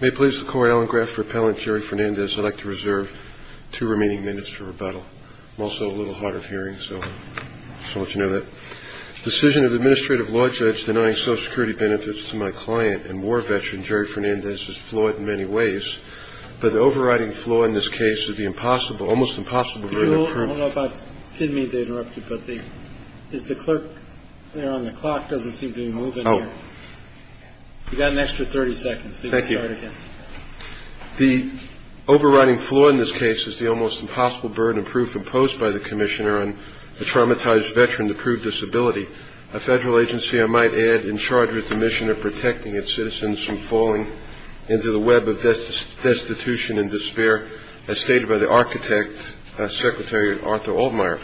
May it please the court, Alan Graf for Appellant Jerry Fernandez. I'd like to reserve two remaining minutes for rebuttal. I'm also a little hard of hearing, so I'll let you know that. Decision of the administrative law judge denying Social Security benefits to my client and war veteran Jerry Fernandez is flawed in many ways, but the overriding flaw in this case is the almost impossible to prove. I don't know if I didn't mean to interrupt you, but the clerk there on the clock doesn't seem to be moving. Oh, you got an extra 30 seconds. Thank you. The overriding flaw in this case is the almost impossible burden of proof imposed by the commissioner on the traumatized veteran to prove disability. A federal agency, I might add, in charge of the mission of protecting its citizens from falling into the web of death, destitution and despair, as stated by the architect, Secretary Arthur Altmaier.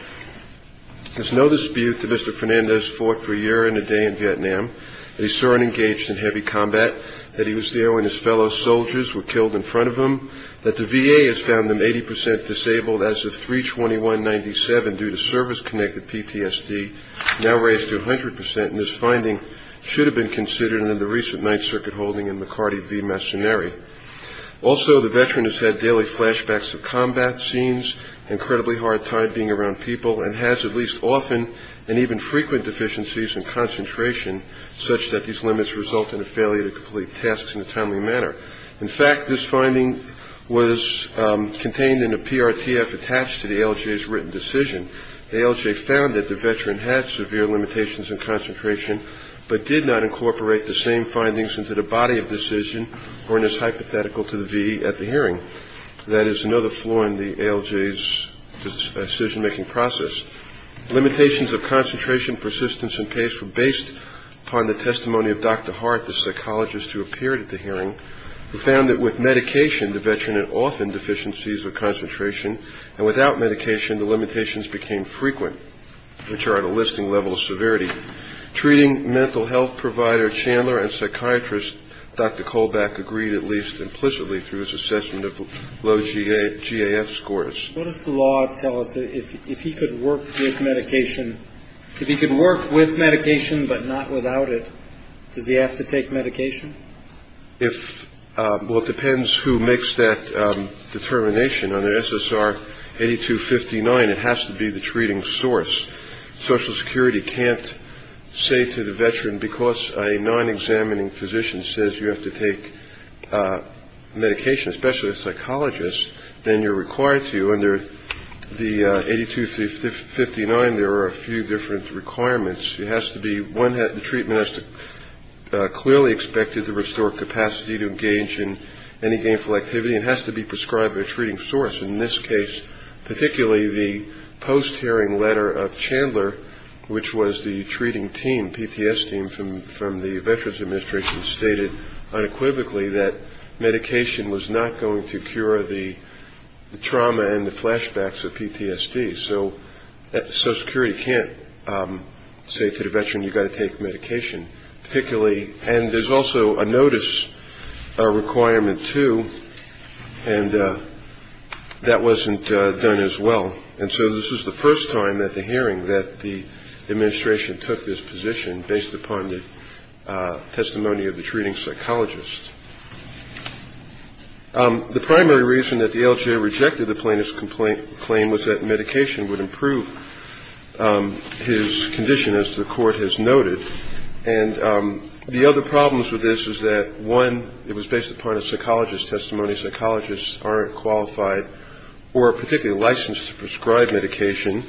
There's no dispute that Mr. Fernandez fought for a year and a day in Vietnam, that he served and engaged in heavy combat, that he was there when his fellow soldiers were killed in front of him, that the VA has found them 80 percent disabled as of 3-21-97 due to service-connected PTSD, now raised to 100 percent, and this finding should have been considered in the recent Ninth Circuit holding in McCarty v. often and even frequent deficiencies in concentration such that these limits result in a failure to complete tasks in a timely manner. In fact, this finding was contained in a PRTF attached to the ALJ's written decision. The ALJ found that the veteran had severe limitations in concentration, but did not incorporate the same findings into the body of decision or in his hypothetical to the VA at the hearing. That is another flaw in the ALJ's decision-making process. Limitations of concentration, persistence and pace were based upon the testimony of Dr. Hart, the psychologist who appeared at the hearing, who found that with medication, the veteran had often deficiencies of concentration, and without medication, the limitations became frequent, which are at a listing level of severity. Treating mental health provider Chandler and psychiatrist Dr. Colbeck agreed, at least implicitly, through his assessment of low GAF scores. What does the law tell us? If he could work with medication, but not without it, does he have to take medication? Well, it depends who makes that determination. Under SSR 8259, it has to be the treating source. Social Security can't say to the veteran, because a non-examining physician says you have to take medication, especially a psychologist, then you're required to. Under the 8259, there are a few different requirements. It has to be, one, the treatment has to clearly expect to restore capacity to engage in any gainful activity. It has to be prescribed by a treating source. In this case, particularly the post-hearing letter of Chandler, which was the treating team, PTS team from the Veterans Administration, stated unequivocally that medication was not going to cure the trauma and the flashbacks of PTSD. So Social Security can't say to the veteran, you've got to take medication. And there's also a notice requirement, too, and that wasn't done as well. And so this was the first time at the hearing that the administration took this position, based upon the testimony of the treating psychologist. The primary reason that the LGA rejected the plaintiff's claim was that medication would improve his condition, as the court has noted. And the other problems with this is that, one, it was based upon a psychologist's testimony. Psychologists aren't qualified or particularly licensed to prescribe medication.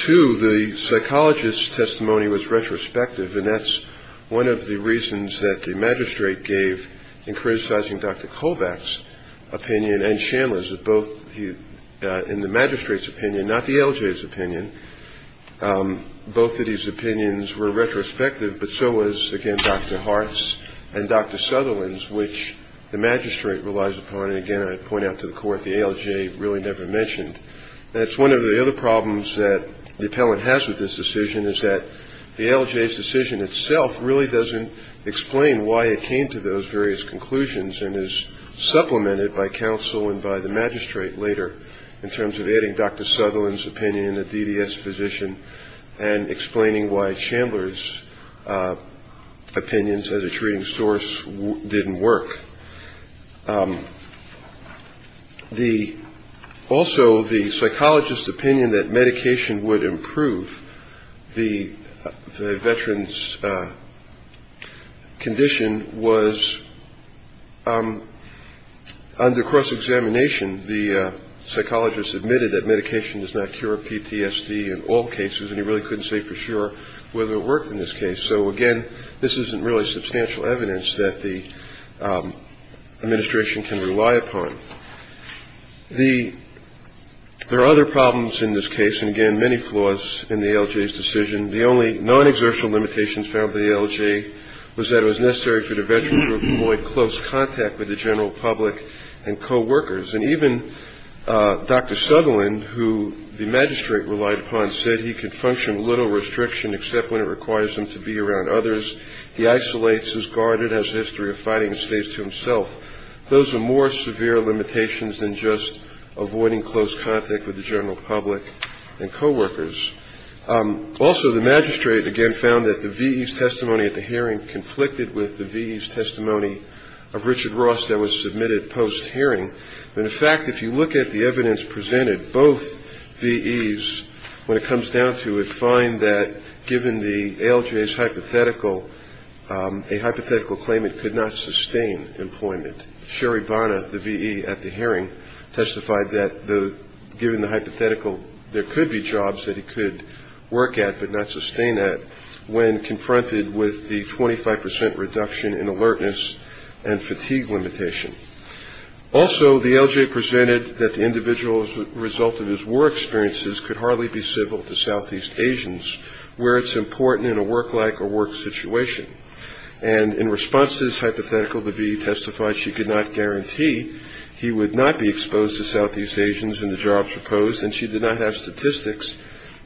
Two, the psychologist's testimony was retrospective, and that's one of the reasons that the magistrate gave in criticizing Dr. Kovach's opinion and Chandler's, in the magistrate's opinion, not the LGA's opinion. Both of these opinions were retrospective, but so was, again, Dr. Hart's and Dr. Sutherland's, which the magistrate relies upon. And, again, I point out to the court, the LGA really never mentioned. That's one of the other problems that the appellant has with this decision, is that the LGA's decision itself really doesn't explain why it came to those various conclusions and is supplemented by counsel and by the magistrate later, in terms of adding Dr. Sutherland's opinion, a DDS physician, and explaining why Chandler's opinions as a treating source didn't work. Also, the psychologist's opinion that medication would improve the veteran's condition was under cross-examination. The psychologist admitted that medication does not cure PTSD in all cases, and he really couldn't say for sure whether it worked in this case. So, again, this isn't really substantial evidence that the administration can rely upon. There are other problems in this case, and, again, many flaws in the LGA's decision. The only non-exertional limitations found by the LGA was that it was necessary for the veteran group to avoid close contact with the general public and coworkers. And even Dr. Sutherland, who the magistrate relied upon, said he could function with little restriction except when it requires him to be around others. He isolates, is guarded, has a history of fighting, and stays to himself. Those are more severe limitations than just avoiding close contact with the general public and coworkers. Also, the magistrate, again, found that the VE's testimony at the hearing conflicted with the VE's testimony of Richard Ross that was submitted post-hearing. And, in fact, if you look at the evidence presented, both VE's, when it comes down to it, find that, given the LGA's hypothetical, a hypothetical claim it could not sustain employment. Sherry Barna, the VE at the hearing, testified that, given the hypothetical, there could be jobs that he could work at but not sustain at when confronted with the 25 percent reduction in alertness and fatigue limitation. Also, the LGA presented that the individual's result of his war experiences could hardly be civil to Southeast Asians, where it's important in a work-like or work situation. And, in response to this hypothetical, the VE testified she could not guarantee he would not be exposed to Southeast Asians in the jobs proposed, and she did not have statistics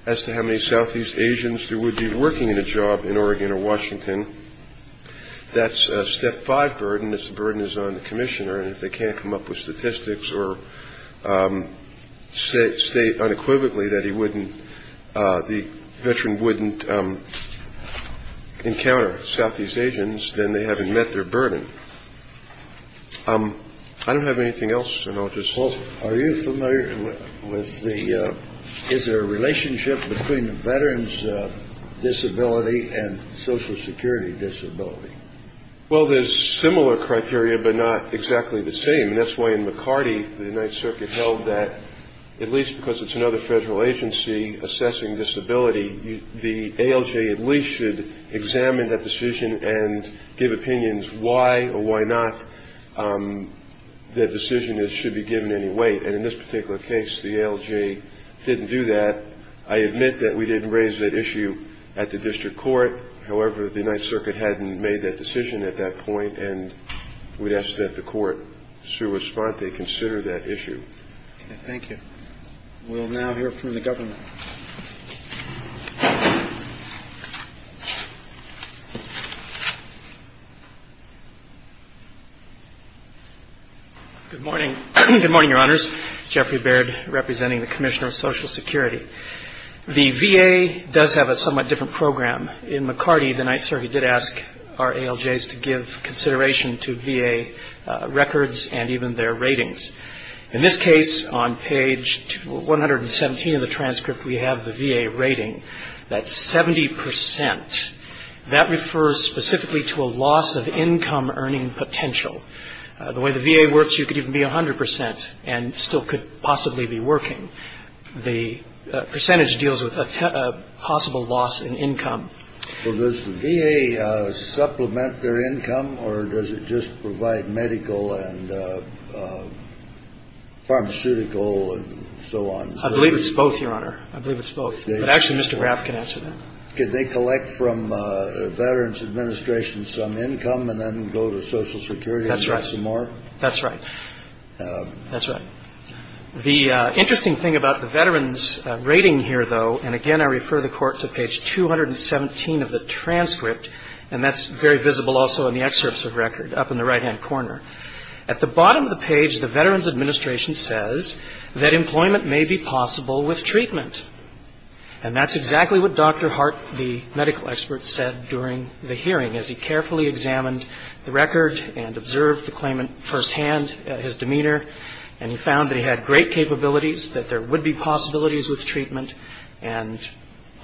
as to how many Southeast Asians there would be working in a job in Oregon or Washington. That's a step five burden. This burden is on the commissioner. And if they can't come up with statistics or state unequivocally that he wouldn't, the veteran wouldn't encounter Southeast Asians, then they haven't met their burden. I don't have anything else, and I'll just. Well, are you familiar with the, is there a relationship between a veteran's disability and Social Security disability? Well, there's similar criteria but not exactly the same. And that's why in McCarty, the United Circuit held that, at least because it's another federal agency assessing disability, the ALJ at least should examine that decision and give opinions why or why not the decision should be given any weight. And in this particular case, the ALJ didn't do that. I admit that we didn't raise that issue at the district court. However, the United Circuit hadn't made that decision at that point, and we'd ask that the court should respond to consider that issue. Thank you. We'll now hear from the government. Good morning. Good morning, Your Honors. Jeffrey Baird, representing the Commissioner of Social Security. The VA does have a somewhat different program. In McCarty, the United Circuit did ask our ALJs to give consideration to VA records and even their ratings. In this case, on page 117 of the transcript, we have the VA rating. That's 70 percent. That refers specifically to a loss of income earning potential. The way the VA works, you could even be 100 percent and still could possibly be working. The percentage deals with a possible loss in income. Well, does the VA supplement their income, or does it just provide medical and pharmaceutical and so on? I believe it's both, Your Honor. I believe it's both. Actually, Mr. Graff can answer that. Could they collect from Veterans Administration some income and then go to Social Security and get some more? That's right. That's right. That's right. The interesting thing about the Veterans rating here, though, and again, I refer the Court to page 217 of the transcript, and that's very visible also in the excerpts of record up in the right-hand corner. At the bottom of the page, the Veterans Administration says that employment may be possible with treatment. And that's exactly what Dr. Hart, the medical expert, said during the hearing, as he carefully examined the record and observed the claimant firsthand, his demeanor, and he found that he had great capabilities, that there would be possibilities with treatment. And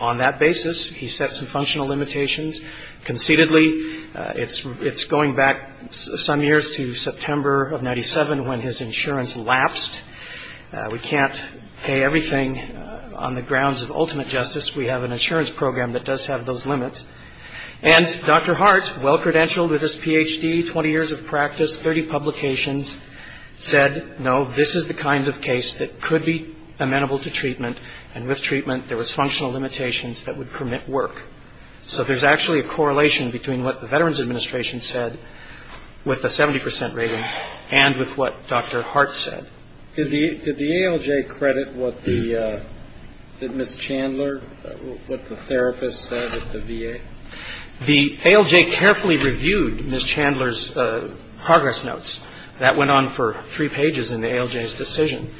on that basis, he set some functional limitations. Conceitedly, it's going back some years to September of 97 when his insurance lapsed. We can't pay everything on the grounds of ultimate justice. We have an insurance program that does have those limits. And Dr. Hart, well-credentialed with his Ph.D., 20 years of practice, 30 publications, said, no, this is the kind of case that could be amenable to treatment. And with treatment, there was functional limitations that would permit work. So there's actually a correlation between what the Veterans Administration said with a 70 percent rating and with what Dr. Hart said. Did the ALJ credit what the Ms. Chandler, what the therapist said at the VA? The ALJ carefully reviewed Ms. Chandler's progress notes. That went on for three pages in the ALJ's decision.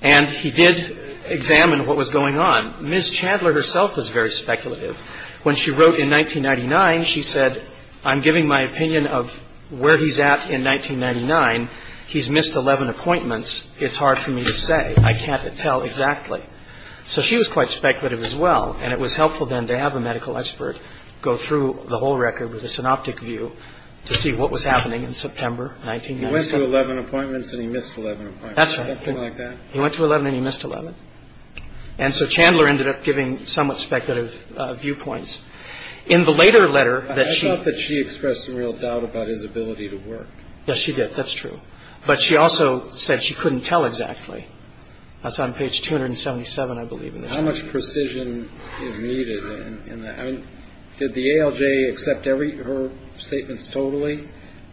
And he did examine what was going on. Ms. Chandler herself was very speculative. When she wrote in 1999, she said, I'm giving my opinion of where he's at in 1999. He's missed 11 appointments. It's hard for me to say. I can't tell exactly. So she was quite speculative as well. And it was helpful then to have a medical expert go through the whole record with a synoptic view to see what was happening in September 1997. He went to 11 appointments and he missed 11 appointments. That's right. Something like that. He went to 11 and he missed 11. And so Chandler ended up giving somewhat speculative viewpoints. In the later letter that she. I thought that she expressed some real doubt about his ability to work. Yes, she did. That's true. But she also said she couldn't tell exactly. That's on page 277, I believe. How much precision is needed in that? Did the ALJ accept her statements totally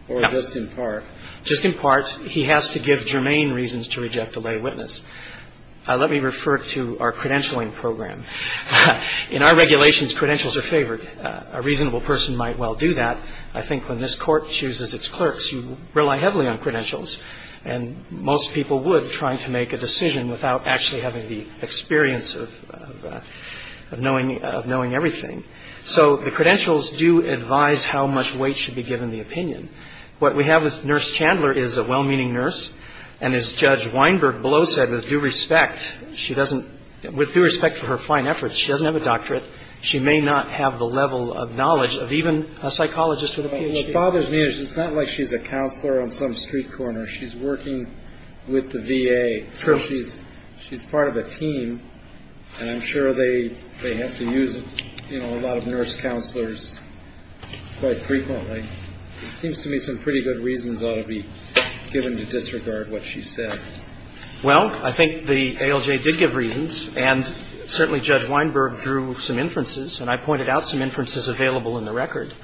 or just in part? Just in part. He has to give germane reasons to reject a lay witness. Let me refer to our credentialing program. In our regulations, credentials are favored. A reasonable person might well do that. I think when this court chooses its clerks, you rely heavily on credentials. And most people would, trying to make a decision without actually having the experience of knowing everything. So the credentials do advise how much weight should be given the opinion. What we have with Nurse Chandler is a well-meaning nurse. And as Judge Weinberg below said, with due respect, she doesn't with due respect for her fine efforts, she doesn't have a doctorate. She may not have the level of knowledge of even a psychologist with a PhD. What bothers me is it's not like she's a counselor on some street corner. She's working with the VA. She's part of a team. And I'm sure they have to use a lot of nurse counselors quite frequently. It seems to me some pretty good reasons ought to be given to disregard what she said. Well, I think the ALJ did give reasons. And certainly Judge Weinberg drew some inferences. And I pointed out some inferences available in the record.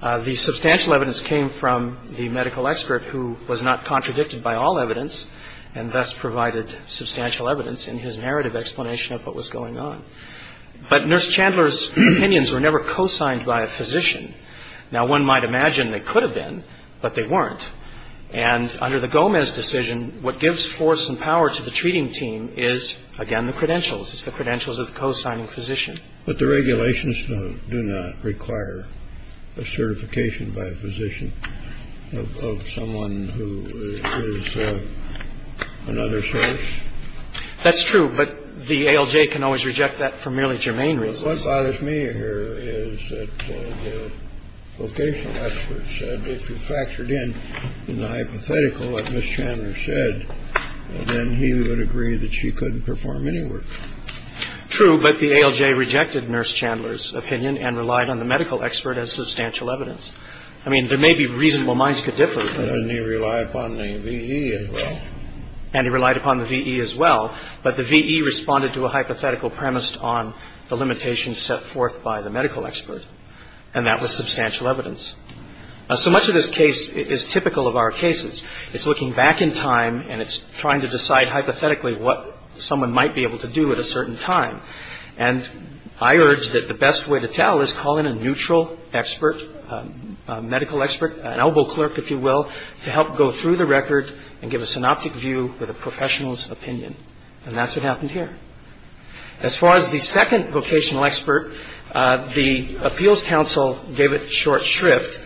The substantial evidence came from the medical expert who was not contradicted by all evidence and thus provided substantial evidence in his narrative explanation of what was going on. But Nurse Chandler's opinions were never cosigned by a physician. Now, one might imagine they could have been, but they weren't. And under the Gomez decision, what gives force and power to the treating team is, again, the credentials. It's the credentials of the cosigning physician. But the regulations do not require a certification by a physician of someone who is another source. That's true. But the ALJ can always reject that for merely germane reasons. Fathers me here is vocation. That's what it said. If you factored in the hypothetical, like Miss Chandler said, then he would agree that she couldn't perform any work. True. But the ALJ rejected Nurse Chandler's opinion and relied on the medical expert as substantial evidence. I mean, there may be reasonable minds could differ. And they rely upon the V. And he relied upon the V.E. as well. But the V.E. responded to a hypothetical premised on the limitations set forth by the medical expert. And that was substantial evidence. So much of this case is typical of our cases. It's looking back in time and it's trying to decide hypothetically what someone might be able to do at a certain time. And I urge that the best way to tell is call in a neutral expert, medical expert, an elbow clerk, if you will, to help go through the record and give a synoptic view with a professional's opinion. And that's what happened here. As far as the second vocational expert, the Appeals Council gave it short shrift.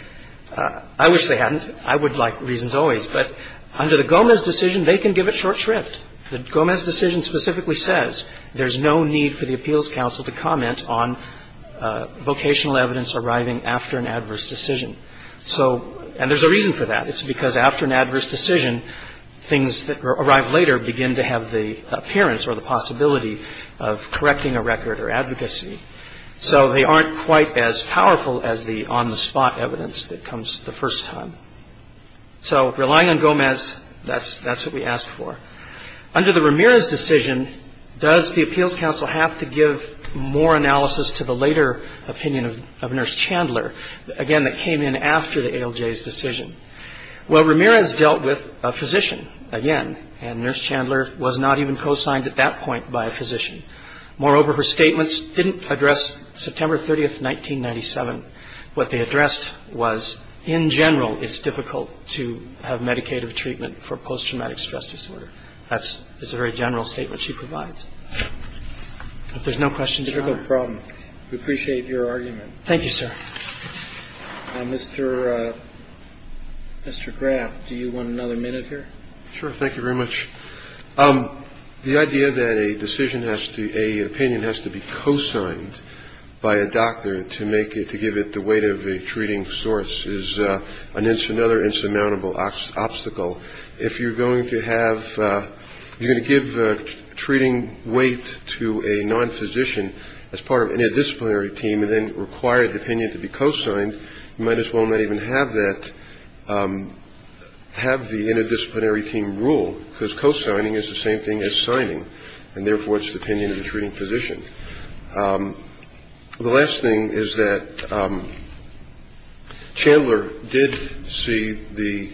I wish they hadn't. I would like reasons always. But under the Gomez decision, they can give it short shrift. The Gomez decision specifically says there's no need for the Appeals Council to comment on vocational evidence arriving after an adverse decision. So and there's a reason for that. It's because after an adverse decision, things that arrive later begin to have the appearance or the possibility of correcting a record or advocacy. So they aren't quite as powerful as the on the spot evidence that comes the first time. So relying on Gomez, that's that's what we asked for. Under the Ramirez decision, does the Appeals Council have to give more analysis to the later opinion of Nurse Chandler? Again, that came in after the ALJ's decision. Well, Ramirez dealt with a physician again, and Nurse Chandler was not even co-signed at that point by a physician. Moreover, her statements didn't address September 30th, 1997. What they addressed was in general, it's difficult to have medicated treatment for post-traumatic stress disorder. That's a very general statement she provides. If there's no questions. It's a difficult problem. We appreciate your argument. Thank you, sir. Mr. Mr. Graff, do you want another minute here? Sure. Thank you very much. The idea that a decision has to a opinion has to be co-signed by a doctor to make it, to give it the weight of a treating source is another insurmountable obstacle. If you're going to give treating weight to a non-physician as part of an interdisciplinary team and then require the opinion to be co-signed, you might as well not even have that, have the interdisciplinary team rule because co-signing is the same thing as signing, and therefore it's the opinion of the treating physician. The last thing is that Chandler did see the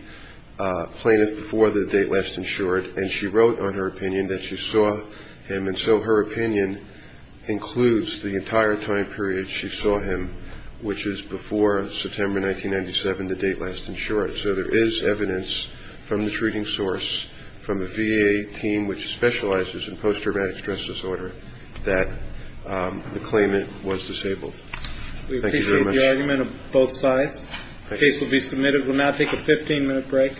plaintiff before the date last insured, and she wrote on her opinion that she saw him. And so her opinion includes the entire time period she saw him, which is before September 1997, the date last insured. So there is evidence from the treating source, from the V.A. team, which specializes in post-traumatic stress disorder, that the claimant was disabled. Thank you very much. We appreciate the argument of both sides. The case will be submitted. We'll now take a 15-minute break.